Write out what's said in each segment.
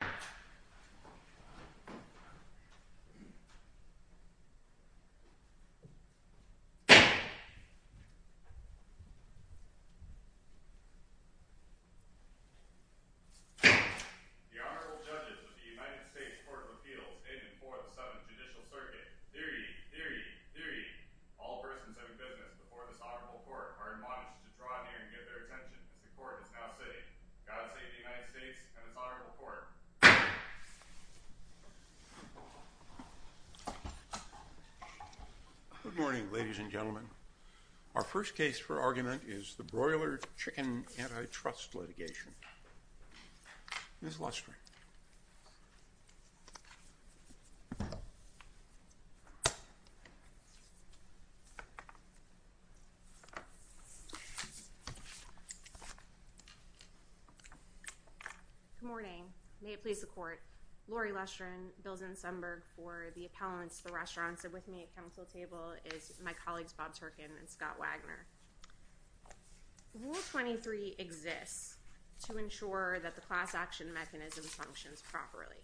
The Honorable Judges of the United States Court of Appeals in and for the 7th Judicial Circuit. Deary, deary, deary, all persons having business before this honorable court are admonished to draw near and get their attention as the court is now sitting. God save the United States and its honorable court. Good morning, ladies and gentlemen. Our first case for argument is the Broiler Chicken Antitrust Litigation. Ms. Luster. Good morning, may it please the court, Lori Luster and Bill Zinsemberg for the appellants of the restaurants that are with me at council table is my colleagues Bob Turkin and Scott Wagner. Rule 23 exists to ensure that the class action mechanism functions properly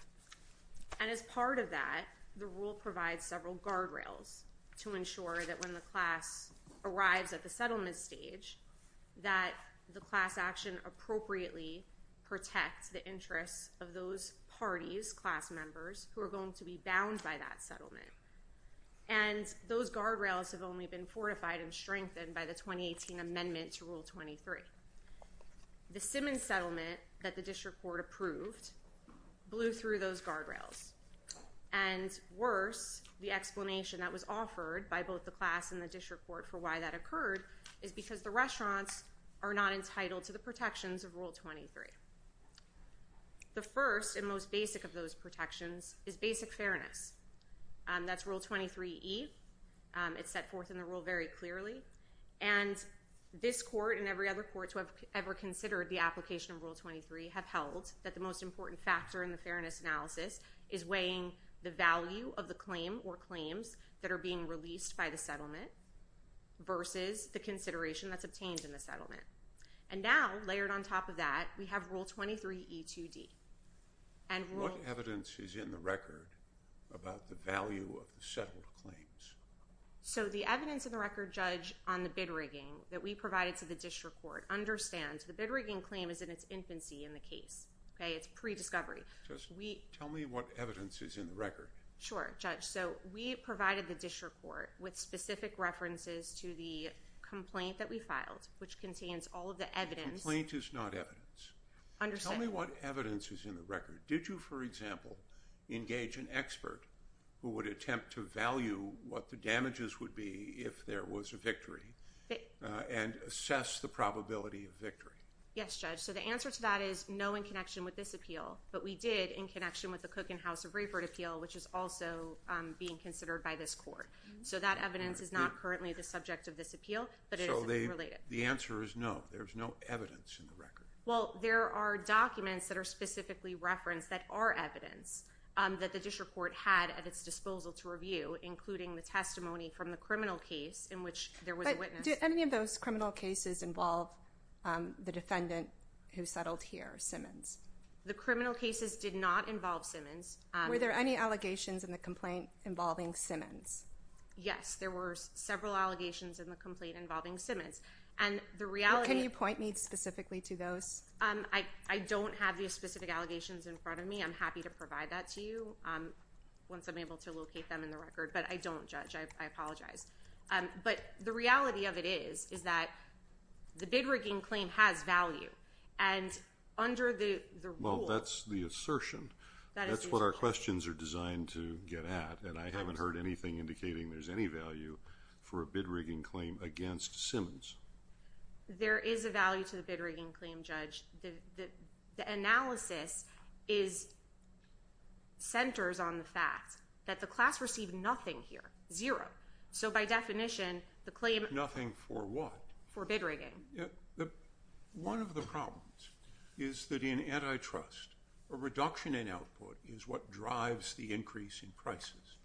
and as part of that the rule provides several guardrails to ensure that when the class arrives at the settlement stage that the class action appropriately protects the interests of those parties, class members, who are going to be bound by that settlement and those guardrails have only been fortified and strengthened by the 2018 amendment to Rule 23. The Simmons settlement that the district court approved blew through those guardrails and worse the explanation that was offered by both the class and the district court for why that occurred is because the restaurants are not entitled to the protections of Rule 23. The first and most basic of those protections is basic fairness. That's Rule 23E. It's set forth in the rule very clearly and this court and every other court to have ever considered the application of Rule 23 have held that the most important factor in the fairness analysis is weighing the value of the claim or claims that are being released by the settlement versus the consideration that's obtained in the settlement. And now layered on top of that we have Rule 23E2D. What evidence is in the record about the value of the settled claims? So the evidence in the record, Judge, on the bid rigging that we provided to the district court understands the bid rigging claim is in its infancy in the case. It's pre-discovery. Tell me what evidence is in the record. Sure, Judge. So we provided the district court with specific references to the complaint that we filed which contains all of the evidence. Complaint is not evidence. Understood. Tell me what evidence is in the record. Did you, for example, engage an expert who would attempt to value what the damages would be if there was a victory and assess the probability of victory? Yes, Judge. So the answer to that is no in connection with this appeal, but we did in connection with the Cook and House of Rayford appeal which is also being considered by this court. So that evidence is not currently the subject of this appeal, but it is related. The answer is no. There's no evidence in the record. Well, there are documents that are specifically referenced that are evidence that the district court had at its disposal to review including the testimony from the criminal case in which there was a witness. But did any of those criminal cases involve the defendant who settled here, Simmons? The criminal cases did not involve Simmons. Were there any allegations in the complaint involving Simmons? Yes, there were several allegations in the complaint involving Simmons. What can you point me specifically to those? I don't have the specific allegations in front of me. I'm happy to provide that to you once I'm able to locate them in the record, but I don't, Judge. I apologize. But the reality of it is, is that the bid rigging claim has value and under the rule Well, that's the assertion. That is the assertion. That's what our questions are designed to get at and I haven't heard anything indicating there's any value for a bid rigging claim against Simmons. There is a value to the bid rigging claim, Judge. The analysis centers on the fact that the class received nothing here, zero. So by definition, the claim Nothing for what? For bid rigging. One of the problems is that in antitrust, a reduction in output is what drives the increase in prices.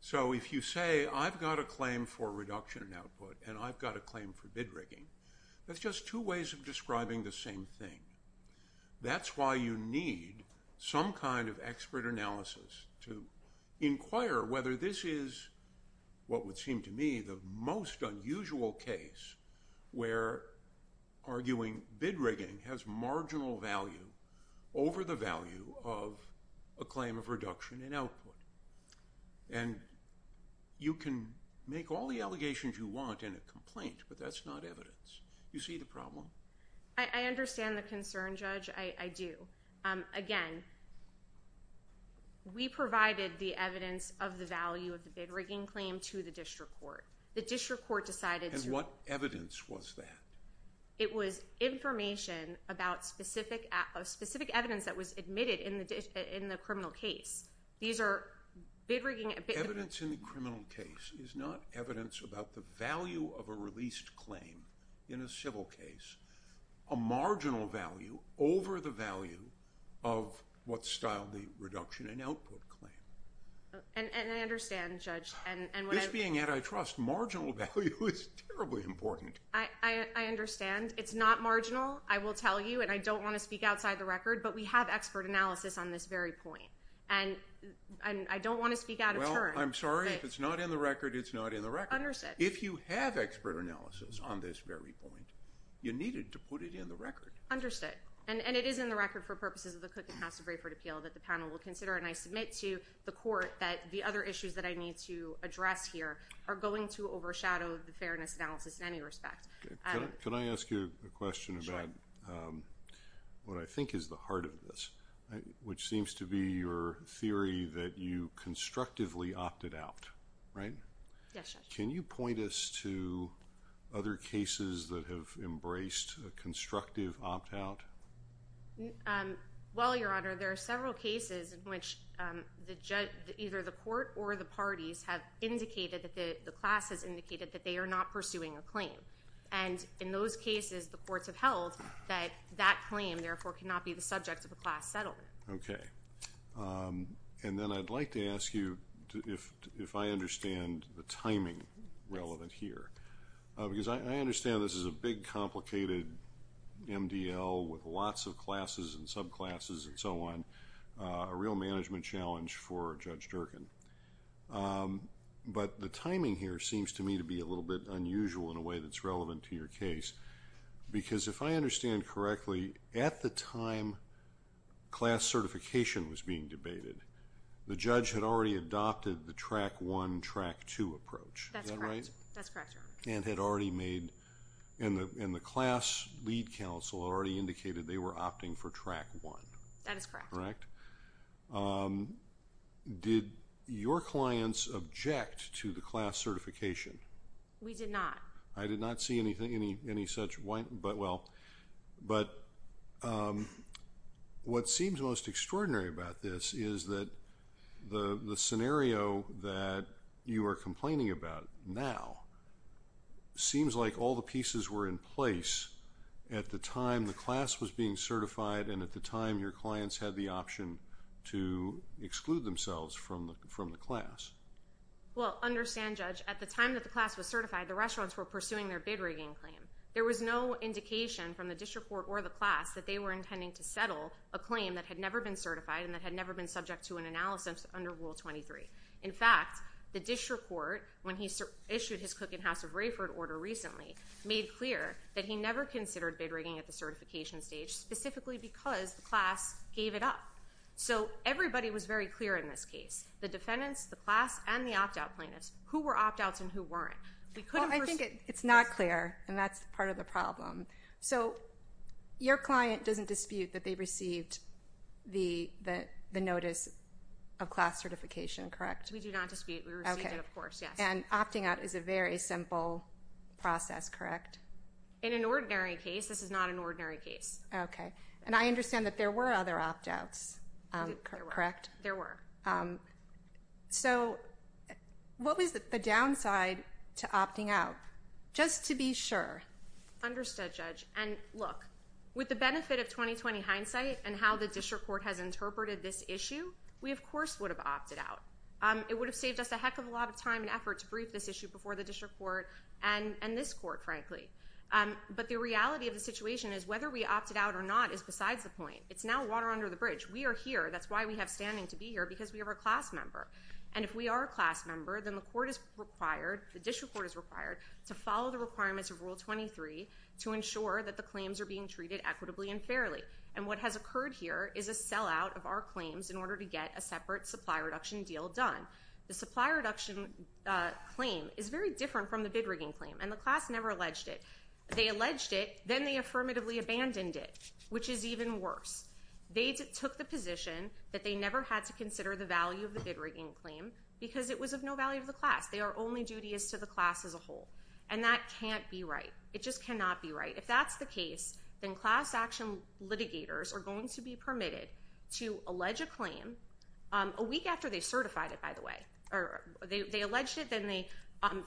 So if you say, I've got a claim for reduction in output and I've got a claim for bid rigging, that's just two ways of describing the same thing. That's why you need some kind of expert analysis to inquire whether this is what would seem to me the most unusual case where arguing bid rigging has marginal value over the value of a claim of reduction in output. And you can make all the allegations you want in a complaint, but that's not evidence. You see the problem? I understand the concern, Judge. I do. Again, we provided the evidence of the value of the bid rigging claim to the district court. The district court decided to And what evidence was that? It was information about specific evidence that was admitted in the criminal case. These are bid rigging Evidence in the criminal case is not evidence about the value of a released claim in a civil case, a marginal value over the value of what styled the reduction in output claim. And I understand, Judge. This being antitrust, marginal value is terribly important. I understand. It's not marginal. I will tell you. And I don't want to speak outside the record. But we have expert analysis on this very point. And I don't want to speak out of turn. I'm sorry. If it's not in the record, it's not in the record. If you have expert analysis on this very point, you needed to put it in the record. And it is in the record for purposes of the Cook and Hassell Braford Appeal that the panel will consider. And I submit to the court that the other issues that I need to address here are going to overshadow the fairness analysis in any respect. Can I ask you a question about what I think is the heart of this, which seems to be your theory that you constructively opted out, right? Yes, Judge. Can you point us to other cases that have embraced a constructive opt out? Well, Your Honor, there are several cases in which either the court or the parties have indicated that the class has indicated that they are not pursuing a claim. And in those cases, the courts have held that that claim, therefore, cannot be the subject of a class settlement. Okay. And then I'd like to ask you if I understand the timing relevant here. Because I understand this is a big, complicated MDL with lots of classes and subclasses and so on, a real management challenge for Judge Durkin. But the timing here seems to me to be a little bit unusual in a way that's relevant to your case. Because if I understand correctly, at the time class certification was being debated, the judge had already adopted the track one, track two approach. Is that right? That's correct. That's correct, Your Honor. And had already made, and the class lead counsel already indicated they were opting for track one. That is correct. Did your clients object to the class certification? We did not. I did not see anything, any such whine, but well. But what seems most extraordinary about this is that the scenario that you are complaining about now seems like all the pieces were in place at the time the class was being certified and at the time your clients had the option to exclude themselves from the class. Well, understand, Judge, at the time that the class was certified, the restaurants were pursuing their bid rigging claim. There was no indication from the district court or the class that they were intending to settle a claim that had never been certified and that had never been subject to an analysis under Rule 23. In fact, the district court, when he issued his Cook and House of Rayford order recently, made clear that he never considered bid rigging at the certification stage, specifically because the class gave it up. So everybody was very clear in this case, the defendants, the class, and the opt-out plaintiffs, who were opt-outs and who weren't. We couldn't pursue. I think it's not clear, and that's part of the problem. So your client doesn't dispute that they received the notice of class certification, correct? We do not dispute. We received it, of course. Yes. And, again, opting out is a very simple process, correct? In an ordinary case, this is not an ordinary case. Okay. And I understand that there were other opt-outs, correct? There were. There were. So what was the downside to opting out? Just to be sure. Understood, Judge. And, look, with the benefit of 20-20 hindsight and how the district court has interpreted this issue, we, of course, would have opted out. It would have saved us a heck of a lot of time and effort to brief this issue before the district court and this court, frankly. But the reality of the situation is whether we opted out or not is besides the point. It's now water under the bridge. We are here. That's why we have standing to be here, because we are a class member. And if we are a class member, then the court is required, the district court is required, to follow the requirements of Rule 23 to ensure that the claims are being treated equitably and fairly. And what has occurred here is a sellout of our claims in order to get a separate supply reduction deal done. The supply reduction claim is very different from the bid rigging claim, and the class never alleged it. They alleged it. Then they affirmatively abandoned it, which is even worse. They took the position that they never had to consider the value of the bid rigging claim because it was of no value to the class. They are only dutious to the class as a whole. And that can't be right. It just cannot be right. If that's the case, then class action litigators are going to be permitted to allege a claim a week after they certified it, by the way. They alleged it, then they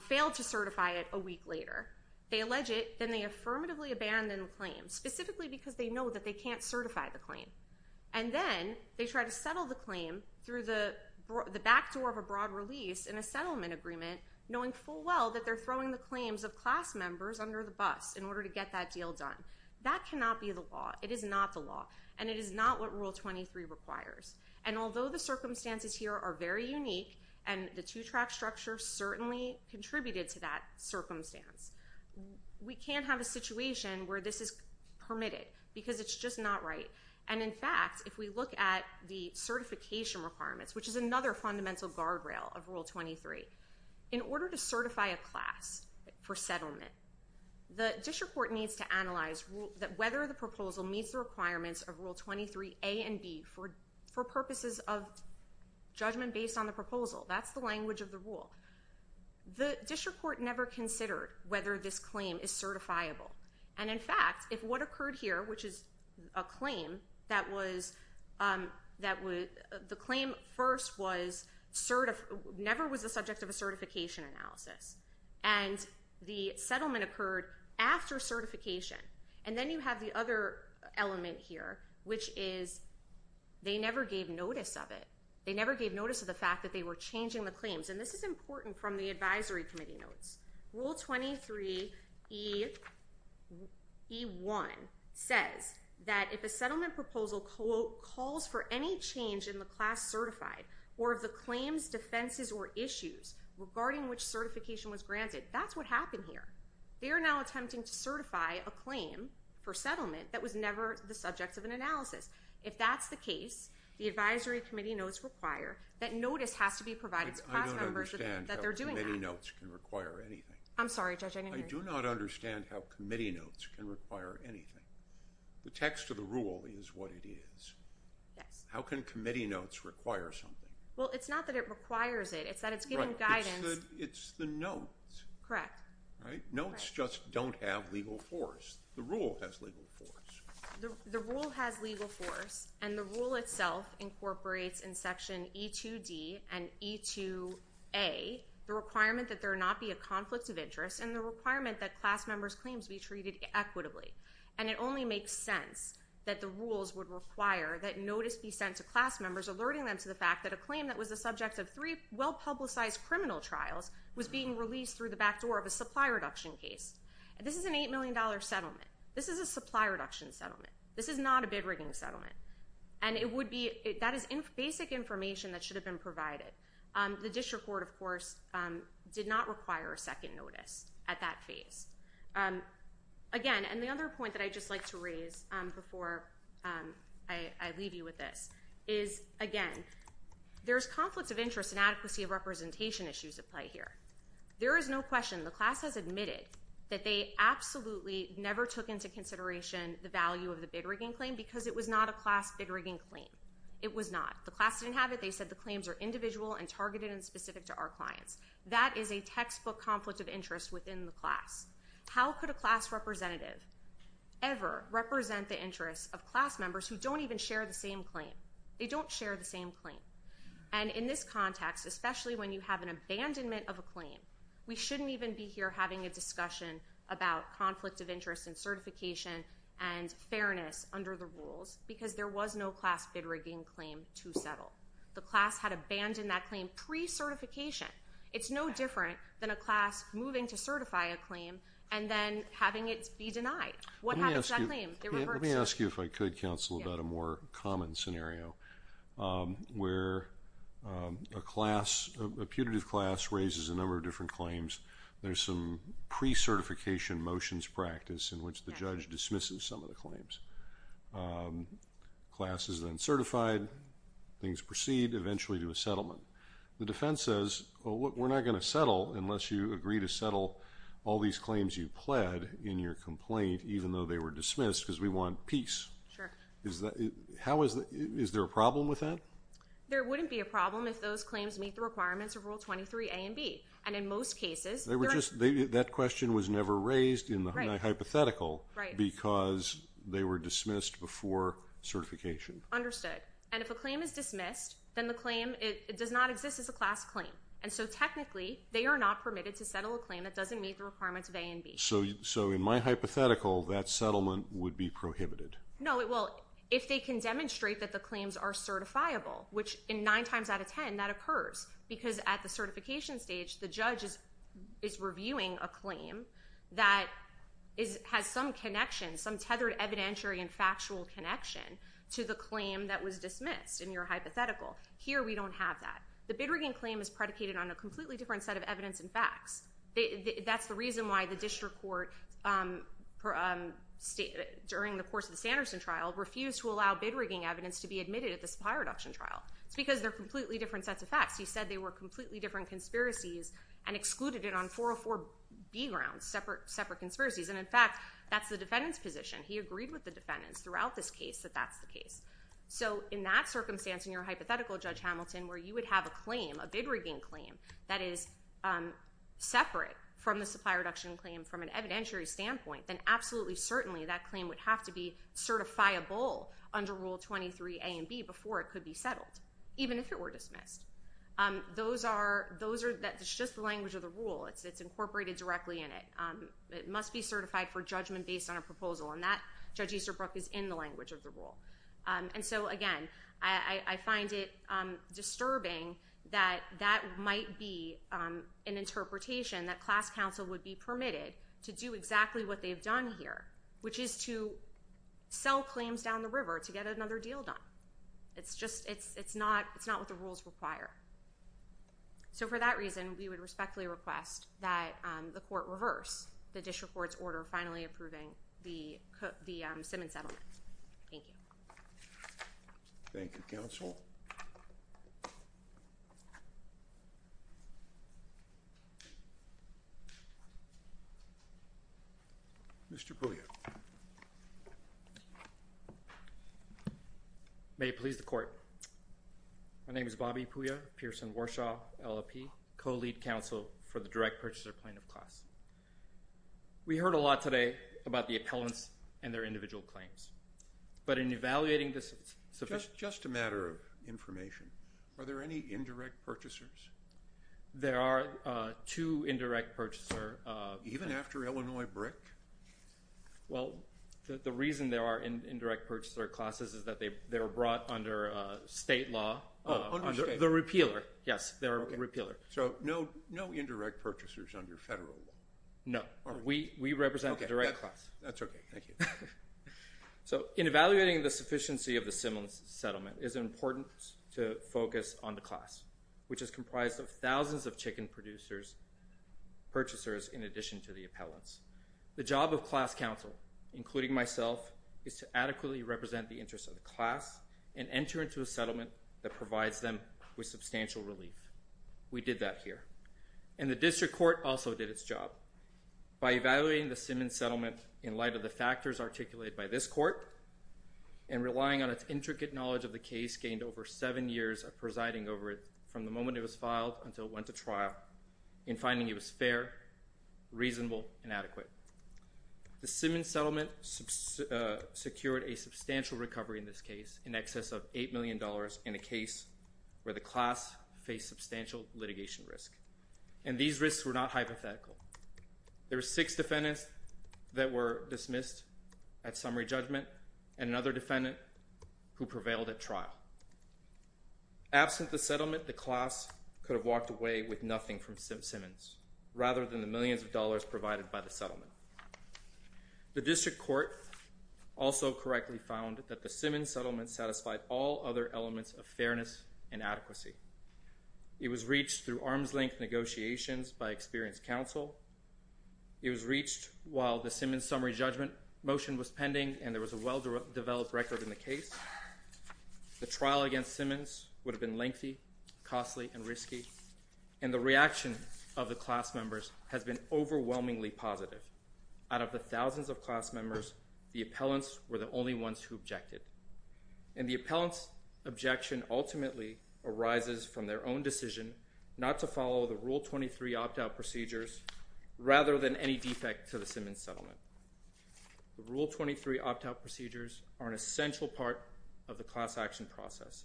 failed to certify it a week later. They allege it, then they affirmatively abandon the claim, specifically because they know that they can't certify the claim. And then they try to settle the claim through the back door of a broad release in a settlement agreement knowing full well that they're throwing the claims of class members under the bus in order to get that deal done. That cannot be the law. It is not the law. And it is not what Rule 23 requires. And although the circumstances here are very unique and the two-track structure certainly contributed to that circumstance, we can't have a situation where this is permitted because it's just not right. And in fact, if we look at the certification requirements, which is another fundamental guardrail of Rule 23, in order to certify a class for settlement, the district court needs to analyze whether the proposal meets the requirements of Rule 23 A and B for purposes of judgment based on the proposal. That's the language of the rule. The district court never considered whether this claim is certifiable. And in fact, if what occurred here, which is a claim that was, the claim first was, never was the subject of a certification analysis. And the settlement occurred after certification. And then you have the other element here, which is they never gave notice of it. They never gave notice of the fact that they were changing the claims. And this is important from the advisory committee notes. Rule 23 E1 says that if a settlement proposal, quote, calls for any change in the class certified or of the claims, defenses, or issues regarding which certification was granted, that's what happened here. They are now attempting to certify a claim for settlement that was never the subject of an analysis. If that's the case, the advisory committee notes require that notice has to be provided to class members that they're doing that. I don't understand how committee notes can require anything. I'm sorry, Judge. I didn't hear you. I do not understand how committee notes can require anything. The text of the rule is what it is. Yes. How can committee notes require something? Well, it's not that it requires it. It's that it's given guidance. It's the notes. Correct. Right? Notes just don't have legal force. The rule has legal force. The rule has legal force, and the rule itself incorporates in section E2D and E2A the requirement that there not be a conflict of interest and the requirement that class members' claims be treated equitably. And it only makes sense that the rules would require that notice be sent to class members alerting them to the fact that a claim that was the subject of three well-publicized criminal trials was being released through the back door of a supply reduction case. This is an $8 million settlement. This is a supply reduction settlement. This is not a bid-rigging settlement. And that is basic information that should have been provided. The district court, of course, did not require a second notice at that phase. Again, and the other point that I'd just like to raise before I leave you with this is, again, there's conflicts of interest and adequacy of representation issues at play here. There is no question the class has admitted that they absolutely never took into consideration the value of the bid-rigging claim because it was not a class bid-rigging claim. It was not. The class didn't have it. They said the claims are individual and targeted and specific to our clients. That is a textbook conflict of interest within the class. How could a class representative ever represent the interests of class members who don't even share the same claim? They don't share the same claim. And in this context, especially when you have an abandonment of a claim, we shouldn't even be here having a discussion about conflict of interest and certification and fairness under the rules because there was no class bid-rigging claim to settle. The class had abandoned that claim pre-certification. It's no different than a class moving to certify a claim and then having it be denied. What happens to that claim? It reverts. Let me ask you if I could, counsel, about a more common scenario where a class, a putative class raises a number of different claims. There's some pre-certification motions practice in which the judge dismisses some of the claims. Class is then certified. Things proceed eventually to a settlement. The defense says, we're not going to settle unless you agree to settle all these claims you pled in your complaint even though they were dismissed because we want peace. Is there a problem with that? There wouldn't be a problem if those claims meet the requirements of Rule 23 A and B. And in most cases, they were just, that question was never raised in the hypothetical because they were dismissed before certification. And if a claim is dismissed, then the claim, it does not exist as a class claim. And so technically, they are not permitted to settle a claim that doesn't meet the requirements of A and B. So, in my hypothetical, that settlement would be prohibited. No, it will, if they can demonstrate that the claims are certifiable, which in nine times out of ten, that occurs. Because at the certification stage, the judge is reviewing a claim that has some connection, some tethered evidentiary and factual connection to the claim that was dismissed in your hypothetical. Here we don't have that. The bid rigging claim is predicated on a completely different set of evidence and facts. That's the reason why the district court during the course of the Sanderson trial refused to allow bid rigging evidence to be admitted at the supplier reduction trial. It's because they're completely different sets of facts. He said they were completely different conspiracies and excluded it on 404B grounds, separate conspiracies. And in fact, that's the defendant's position. He agreed with the defendants throughout this case that that's the case. So in that circumstance, in your hypothetical, Judge Hamilton, where you would have a claim, a bid rigging claim, that is separate from the supplier reduction claim from an evidentiary standpoint, then absolutely certainly that claim would have to be certifiable under Rule 23 A and B before it could be settled, even if it were dismissed. Those are, that's just the language of the rule. It's incorporated directly in it. It must be certified for judgment based on a proposal, and that, Judge Easterbrook, is in the language of the rule. And so again, I find it disturbing that that might be an interpretation that class counsel would be permitted to do exactly what they've done here, which is to sell claims down the river to get another deal done. It's just, it's not what the rules require. So for that reason, we would respectfully request that the court reverse the district court's order finally approving the Simmons settlement. Thank you. Thank you, counsel. Mr. Puya. May it please the court. My name is Bobby Puya, Pearson Warshaw, LLP, co-lead counsel for the direct purchaser plaintiff class. We heard a lot today about the appellants and their individual claims. But in evaluating this... Just a matter of information, are there any indirect purchasers? There are two indirect purchaser... Even after Illinois BRIC? Well, the reason there are indirect purchaser classes is that they were brought under state law. Oh, under state law. The repealer. Yes, the repealer. So no indirect purchasers under federal law? No. We represent the direct class. Okay. That's okay. Thank you. So in evaluating the sufficiency of the Simmons settlement, it's important to focus on the class, which is comprised of thousands of chicken purchasers in addition to the appellants. The job of class counsel, including myself, is to adequately represent the interest of the class and enter into a settlement that provides them with substantial relief. We did that here. And the district court also did its job. By evaluating the Simmons settlement in light of the factors articulated by this court and relying on its intricate knowledge of the case gained over seven years of presiding over it from the moment it was filed until it went to trial in finding it was fair, reasonable and adequate. The Simmons settlement secured a substantial recovery in this case in excess of $8 million in a case where the class faced substantial litigation risk. And these risks were not hypothetical. There were six defendants that were dismissed at summary judgment and another defendant who prevailed at trial. Absent the settlement, the class could have walked away with nothing from Simmons rather than the millions of dollars provided by the settlement. The district court also correctly found that the Simmons settlement satisfied all other elements of fairness and adequacy. It was reached through arm's-length negotiations by experienced counsel. It was reached while the Simmons summary judgment motion was pending and there was a well-developed record in the case. The trial against Simmons would have been lengthy, costly and risky. And the reaction of the class members has been overwhelmingly positive. Out of the thousands of class members, the appellants were the only ones who objected. And the appellant's objection ultimately arises from their own decision not to follow the Rule 23 opt-out procedures rather than any defect to the Simmons settlement. The Rule 23 opt-out procedures are an essential part of the class action process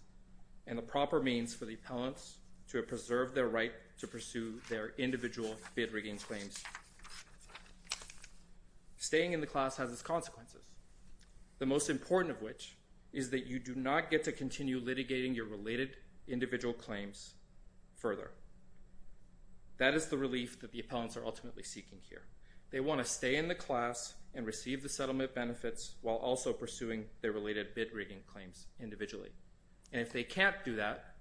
and the proper means for the appellants to preserve their right to pursue their individual bid-rigging claims. Staying in the class has its consequences, the most important of which is that you do not get to continue litigating your related individual claims further. That is the relief that the appellants are ultimately seeking here. They want to stay in the class and receive the settlement benefits while also pursuing their related bid-rigging claims individually. And if they can't do that,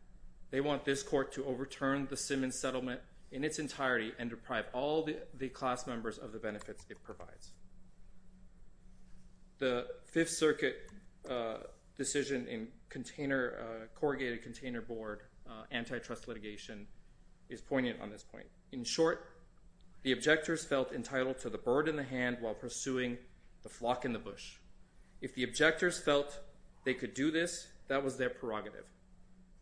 they want this court to overturn the Simmons settlement in its entirety and deprive all the class members of the benefits it provides. The Fifth Circuit decision in corrugated container board antitrust litigation is poignant on this point. In short, the objectors felt entitled to the bird in the hand while pursuing the flock in the bush. If the objectors felt they could do this, that was their prerogative.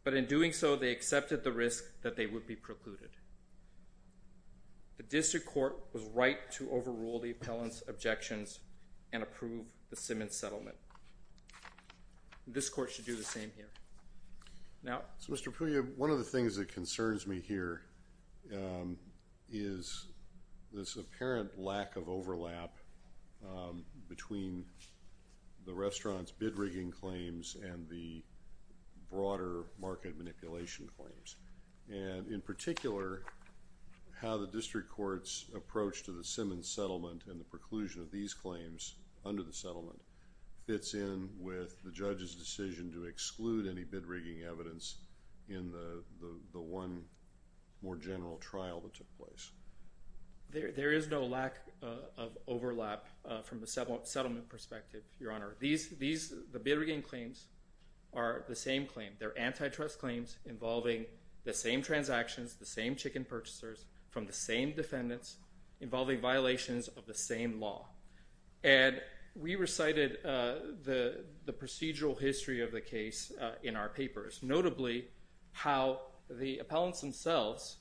But in doing so, they accepted the risk that they would be precluded. The district court was right to overrule the appellant's objections and approve the Simmons settlement. This court should do the same here. Now... Mr. Puglia, one of the things that concerns me here is this apparent lack of overlap between the restaurant's bid-rigging claims and the broader market manipulation claims, and in particular how the district court's approach to the Simmons settlement and the preclusion of these claims under the settlement fits in with the judge's decision to exclude any bid-rigging evidence in the one more general trial that took place. There is no lack of overlap from the settlement perspective, Your Honor. The bid-rigging claims are the same claim. They're antitrust claims involving the same transactions, the same chicken purchasers from the same defendants, involving violations of the same law. And we recited the procedural history of the case in our papers, notably how the appellants themselves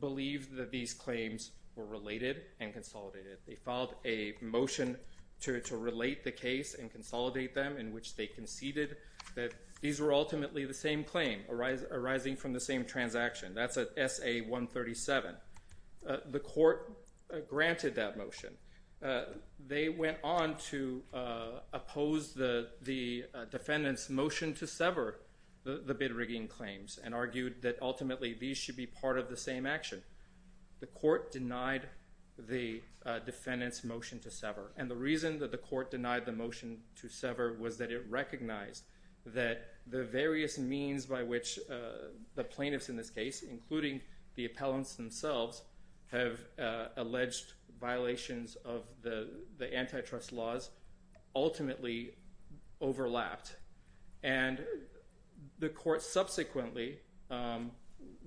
believed that these claims were related and consolidated. They filed a motion to relate the case and consolidate them in which they conceded that these were ultimately the same claim arising from the same transaction. That's at SA-137. The court granted that motion. They went on to oppose the defendant's motion to sever the bid-rigging claims and argued that ultimately these should be part of the same action. The court denied the defendant's motion to sever, and the reason that the court denied the motion to sever was that it recognized that the various means by which the plaintiffs in this case, including the appellants themselves, have alleged violations of the antitrust laws ultimately overlapped. And the court subsequently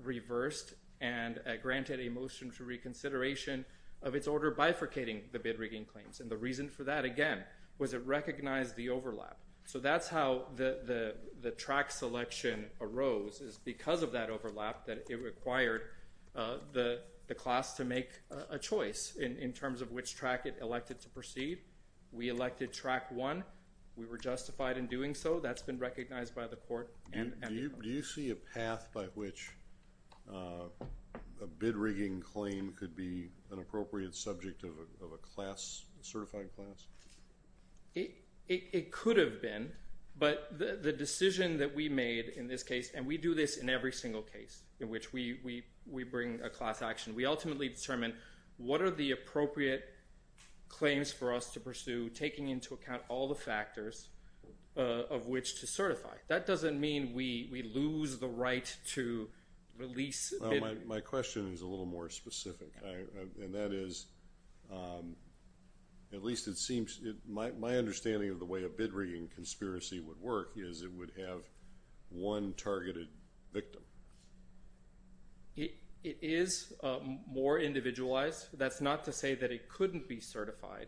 reversed and granted a motion to reconsideration of its order bifurcating the bid-rigging claims. And the reason for that, again, was it recognized the overlap. So that's how the track selection arose, is because of that overlap that it required the class to make a choice in terms of which track it elected to proceed. We elected track one. We were justified in doing so. That's been recognized by the court and the appellant. Do you see a path by which a bid-rigging claim could be an appropriate subject of a class, a certified class? It could have been, but the decision that we made in this case, and we do this in every single case in which we bring a class action, we ultimately determine what are the appropriate claims for us to pursue, taking into account all the factors of which to certify. That doesn't mean we lose the right to release a bid. My question is a little more specific, and that is, at least it seems, my understanding of the way a bid-rigging conspiracy would work is it would have one targeted victim. It is more individualized. That's not to say that it couldn't be certified,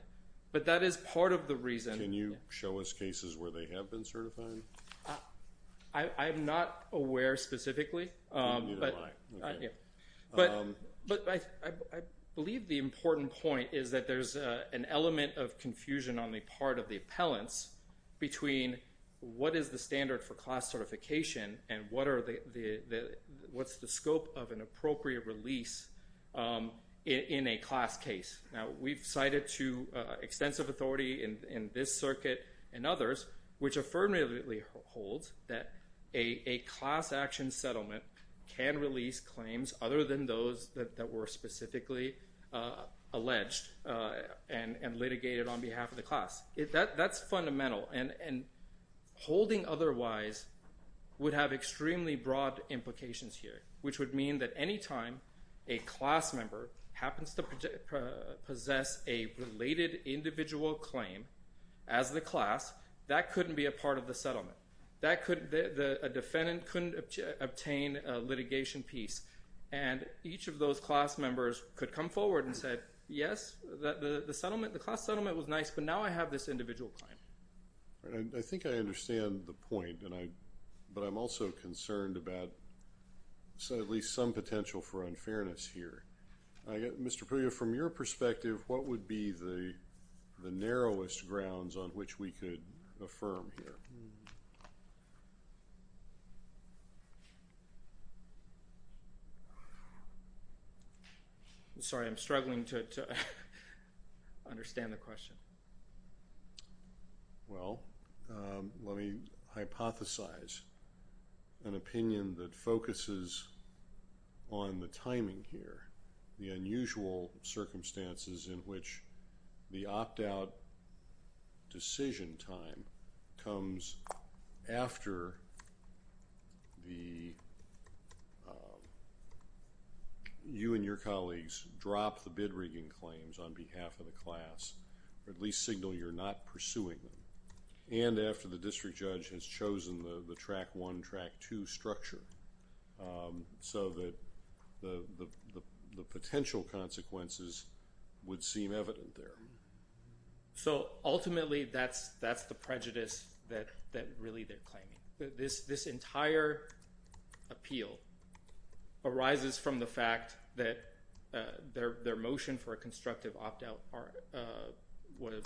but that is part of the reason. Can you show us cases where they have been certified? I'm not aware specifically. You wouldn't mind. But I believe the important point is that there's an element of confusion on the part of the appellants between what is the standard for class certification and what's the scope of an appropriate release in a class case. We've cited to extensive authority in this circuit and others, which affirmatively holds that a class action settlement can release claims other than those that were specifically alleged and litigated on behalf of the class. That's fundamental, and holding otherwise would have extremely broad implications here, which would mean that any time a class member happens to possess a related individual claim as the class, that couldn't be a part of the settlement. A defendant couldn't obtain a litigation piece, and each of those class members could come forward and say, yes, the class settlement was nice, but now I have this individual claim. I think I understand the point, but I'm also concerned about at least some potential for unfairness here. Mr. Puglia, from your perspective, what would be the narrowest grounds on which we could affirm here? I'm sorry. I'm struggling to understand the question. Well, let me hypothesize an opinion that focuses on the timing here, the unusual circumstances in which the opt-out decision time comes after you and your colleagues drop the bid-rigging claims on behalf of the class, or at least signal you're not pursuing them, and after the district judge has chosen the track one, track two structure, so that the potential consequences would seem evident there. So ultimately, that's the prejudice that really they're claiming. This entire appeal arises from the fact that their motion for a constructive opt-out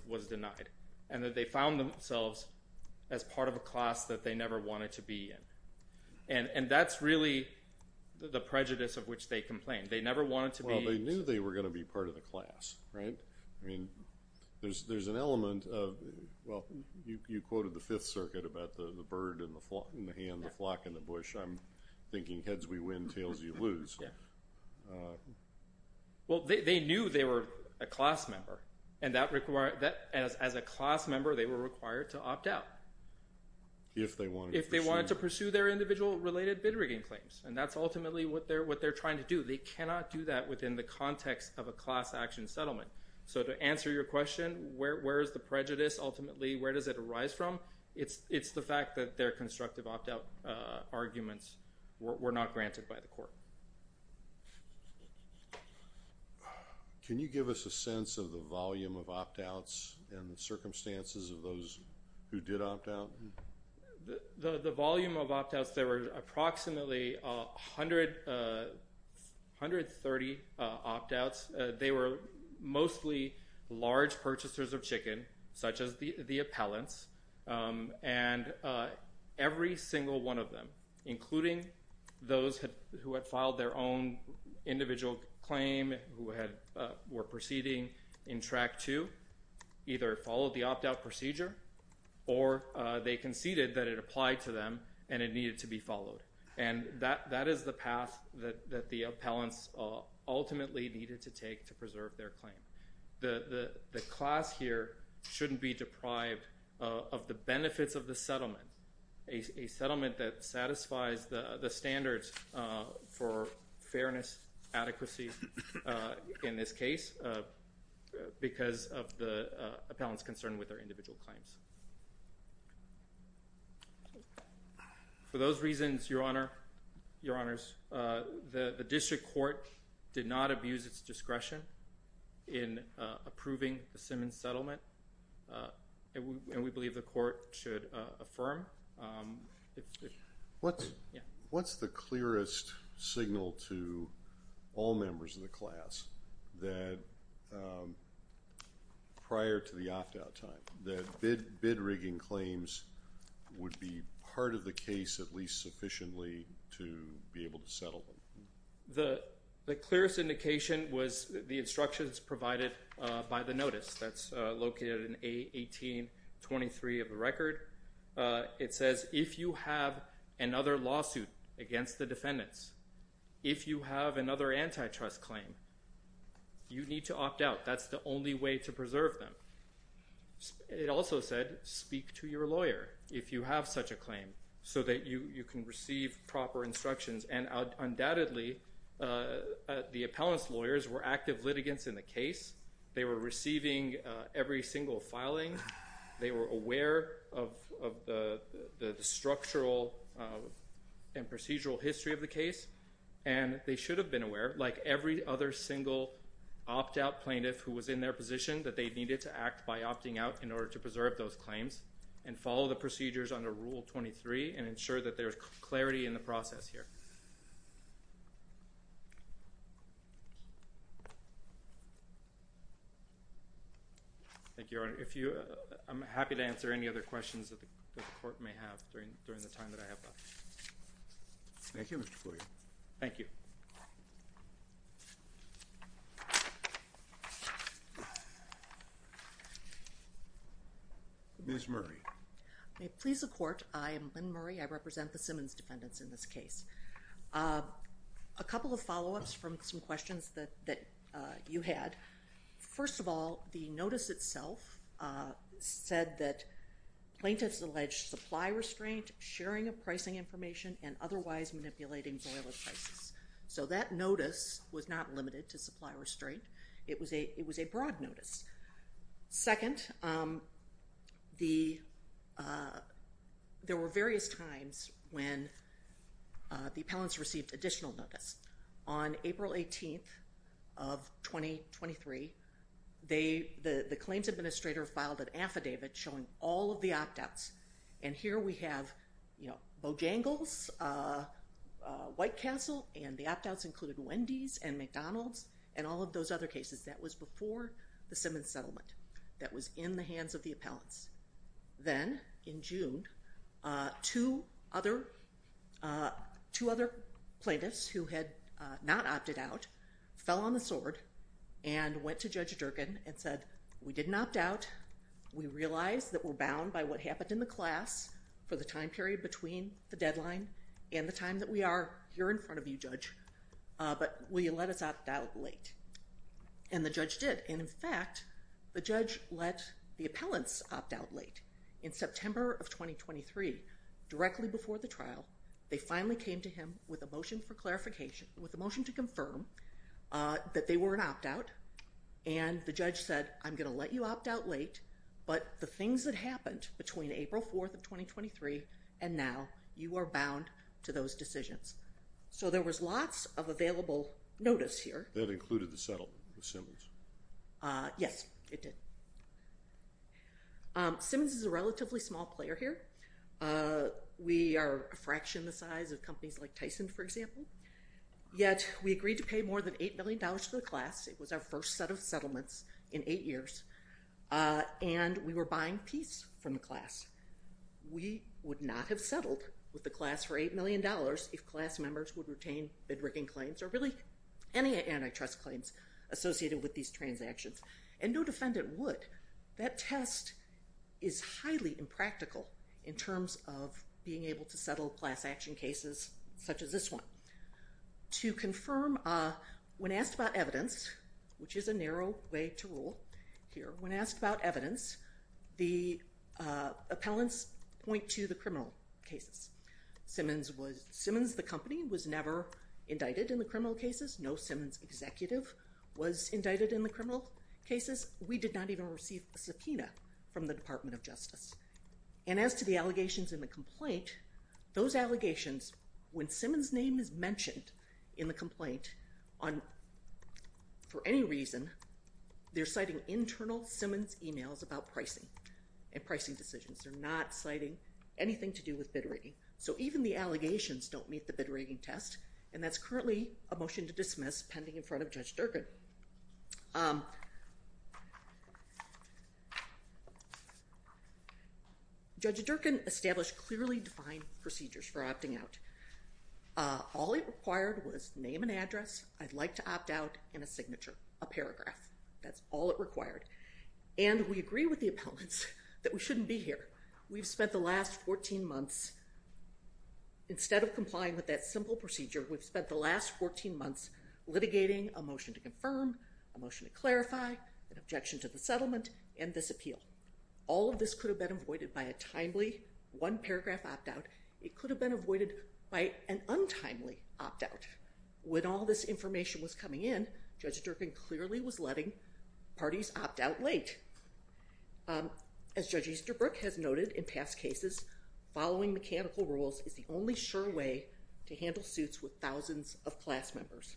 was denied, and that they found themselves as part of a class that they never wanted to be in. And that's really the prejudice of which they complain. They never wanted to be... Well, they knew they were going to be part of the class, right? There's an element of, well, you quoted the Fifth Circuit about the bird in the hand, the flock in the bush. I'm thinking heads we win, tails you lose. Well, they knew they were a class member, and as a class member, they were required to opt-out if they wanted to pursue their individual related bid-rigging claims. And that's ultimately what they're trying to do. They cannot do that within the context of a class action settlement. So to answer your question, where is the prejudice ultimately? Where does it arise from? It's the fact that their constructive opt-out arguments were not granted by the court. Can you give us a sense of the volume of opt-outs and the circumstances of those who did opt-out? The volume of opt-outs, there were approximately 130 opt-outs. They were mostly large purchasers of chicken, such as the appellants, and every single one of them, including those who had filed their own individual claim, who were proceeding in Track 2, either followed the opt-out procedure or they conceded that it applied to them and it needed to be followed. And that is the path that the appellants ultimately needed to take to preserve their claim. The class here shouldn't be deprived of the benefits of the settlement, a settlement that satisfies the standards for fairness, adequacy, in this case, because of the appellants' concern with their individual claims. For those reasons, Your Honor, Your Honors, the district court did not abuse its discretion in approving the Simmons settlement, and we believe the court should affirm. What's the clearest signal to all members of the class that prior to the opt-out time, that bid rigging claims would be part of the case, at least sufficiently, to be able to settle them? The clearest indication was the instructions provided by the notice that's located in A-1823 of the record. It says if you have another lawsuit against the defendants, if you have another antitrust claim, you need to opt-out. That's the only way to preserve them. It also said speak to your lawyer if you have such a claim so that you can receive proper instructions. And undoubtedly, the appellants' lawyers were active litigants in the case. They were receiving every single filing. They were aware of the structural and procedural history of the case, and they should have been aware, like every other single opt-out plaintiff who was in their position, that they needed to act by opting out in order to preserve those claims and follow the procedures under Rule 23 and ensure that there's clarity in the process here. Thank you, Your Honor. I'm happy to answer any other questions that the court may have during the time that I have left. Thank you, Mr. Flory. Thank you. Ms. Murray. May it please the Court, I am Lynn Murray. I represent the Simmons defendants in this case. A couple of follow-ups from some questions that you had. First of all, the notice itself said that plaintiffs alleged supply restraint, sharing of pricing information, and otherwise manipulating boiler prices. So that notice was not limited to supply restraint. It was a broad notice. Second, there were various times when the appellants received additional notice. On April 18th of 2023, the claims administrator filed an affidavit showing all of the opt-outs. And here we have Bojangles, White Castle, and the opt-outs included Wendy's and McDonald's and all of those other cases. That was before the Simmons settlement. That was in the hands of the appellants. Then, in June, two other plaintiffs who had not opted out fell on the sword and went to Judge Durkin and said, we didn't opt out. We realize that we're bound by what happened in the class for the time period between the deadline and the time that we are here in front of you, Judge, but will you let us opt out late? And the judge did. And in fact, the judge let the appellants opt out late. In September of 2023, directly before the trial, they finally came to him with a motion for clarification, with a motion to confirm that they were an opt-out. And the judge said, I'm going to let you opt out late, but the things that happened between April 4th of 2023 and now, you are bound to those decisions. So there was lots of available notice here. That included the settlement with Simmons. Yes, it did. Simmons is a relatively small player here. We are a fraction the size of companies like Tyson, for example. Yet, we agreed to pay more than $8 million to the class. It was our first set of settlements in eight years. And we were buying peace from the class. We would not have settled with the class for $8 million if class members would retain bid-rigging claims or really any antitrust claims associated with these transactions. And no defendant would. That test is highly impractical in terms of being able to settle class action cases such as this one. To confirm, when asked about evidence, which is a narrow way to rule here, when asked about evidence, the appellants point to the criminal cases. Simmons, the company, was never indicted in the criminal cases. No Simmons executive was indicted in the criminal cases. We did not even receive a subpoena from the Department of Justice. And as to the allegations in the complaint, those allegations, when Simmons' name is mentioned in the complaint, for any reason, they're citing internal Simmons emails about pricing and pricing decisions. They're not citing anything to do with bid-rigging. So even the allegations don't meet the bid-rigging test. And that's currently a motion to dismiss pending in front of Judge Durkan. Judge Durkan established clearly defined procedures for opting out. All it required was name and address, I'd like to opt out, and a signature, a paragraph. That's all it required. And we agree with the appellants that we shouldn't be here. We've spent the last 14 months, instead of complying with that simple procedure, we've spent the last 14 months litigating a motion to confirm, a motion to clarify, an objection to the settlement, and this appeal. All of this could have been avoided by a timely one-paragraph opt-out. It could have been avoided by an untimely opt-out. When all this information was coming in, Judge Durkan clearly was letting parties opt out late. As Judge Easterbrook has noted in past cases, following mechanical rules is the only sure way to handle suits with thousands of class members.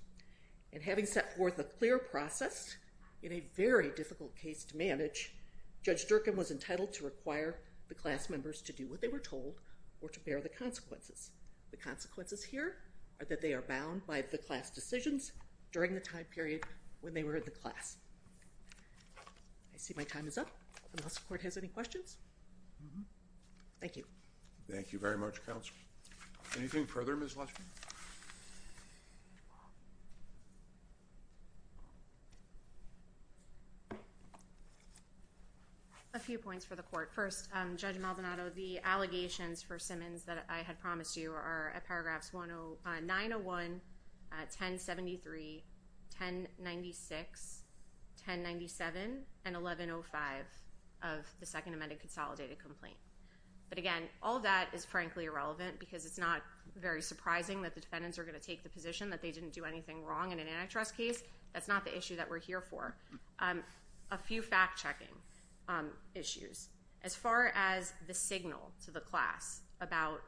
And having set forth a clear process, in a very difficult case to manage, Judge Durkan was entitled to require the class members to do what they were told or to bear the consequences. The consequences here are that they are bound by the class decisions during the time period when they were in the class. I see my time is up, unless the court has any questions? Thank you. Thank you very much, Counsel. Anything further, Ms. Lushman? A few points for the court. First, Judge Maldonado, the allegations for Simmons that I had promised you are at paragraphs 901, 1073, 1096, 1097, and 1105 of the Second Amended Consolidated Complaint. But again, all that is frankly irrelevant because it's not very surprising that the defendants are going to take the position that they didn't do anything wrong in an antitrust case. That's not the issue that we're here for. A few fact-checking issues. As far as the signal to the class about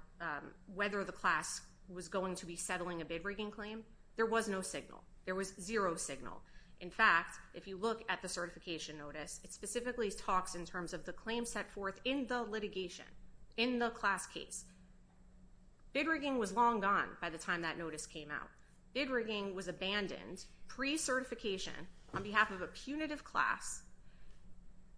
whether the class was going to be settling a bid-rigging claim, there was no signal. There was zero signal. In fact, if you look at the certification notice, it specifically talks in terms of the claim set forth in the litigation, in the class case. Bid-rigging was long gone by the time that notice came out. Bid-rigging was abandoned pre-certification on behalf of a punitive class,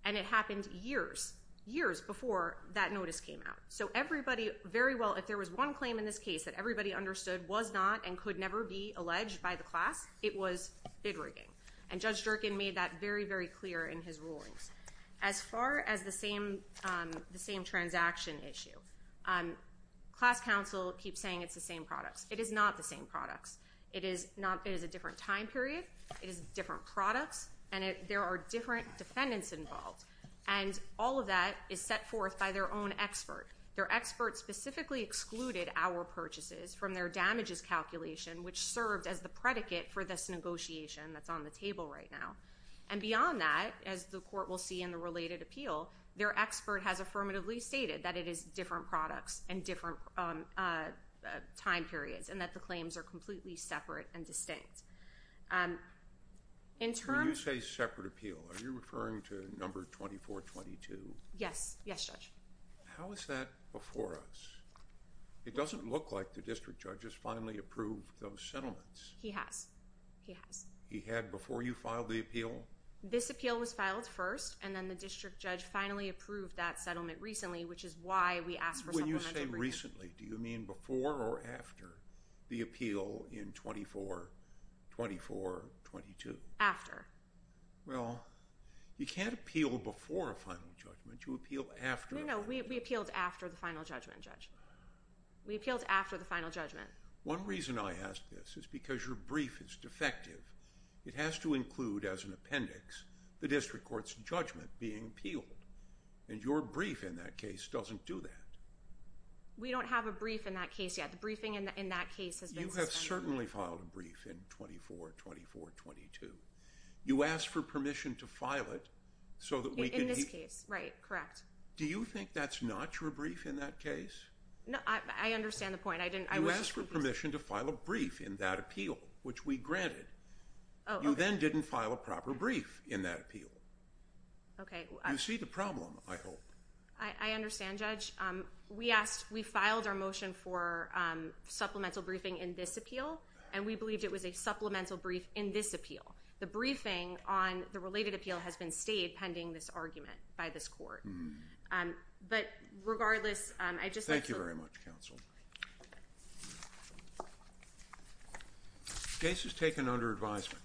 and it happened years, years before that notice came out. So everybody very well, if there was one claim in this case that everybody understood was not and could never be alleged by the class, it was bid-rigging. And Judge Jerkin made that very, very clear in his rulings. As far as the same transaction issue, class counsel keeps saying it's the same products. It is not the same products. It is a different time period. It is different products, and there are different defendants involved. And all of that is set forth by their own expert. Their expert specifically excluded our purchases from their damages calculation, which served as the predicate for this negotiation that's on the table right now. And beyond that, as the court will see in the related appeal, their expert has affirmatively stated that it is different products and different time periods, and that the claims are completely separate and distinct. When you say separate appeal, are you referring to number 2422? Yes. Yes, Judge. How is that before us? It doesn't look like the district judge has finally approved those settlements. He has. He has. He has. He had before you filed the appeal? This appeal was filed first, and then the district judge finally approved that settlement recently, which is why we asked for settlement agreement. When you say recently, do you mean before or after the appeal in 2422? After. Well, you can't appeal before a final judgment. You appeal after a final judgment. No, no. We appealed after the final judgment, Judge. We appealed after the final judgment. One reason I ask this is because your brief is defective. It has to include, as an appendix, the district court's judgment being appealed. And your brief in that case doesn't do that. We don't have a brief in that case yet. The briefing in that case has been suspended. You have certainly filed a brief in 242422. You asked for permission to file it so that we can... In this case, right. Correct. Do you think that's not your brief in that case? No, I understand the point. You asked for permission to file a brief in that appeal, which we granted. Oh, okay. You then didn't file a proper brief in that appeal. Okay. You see the problem, I hope. I understand, Judge. We filed our motion for supplemental briefing in this appeal, and we believed it was a supplemental brief in this appeal. The briefing on the related appeal has been stayed pending this argument by this court. But regardless, I just... Thank you very much, counsel. Case is taken under advisement.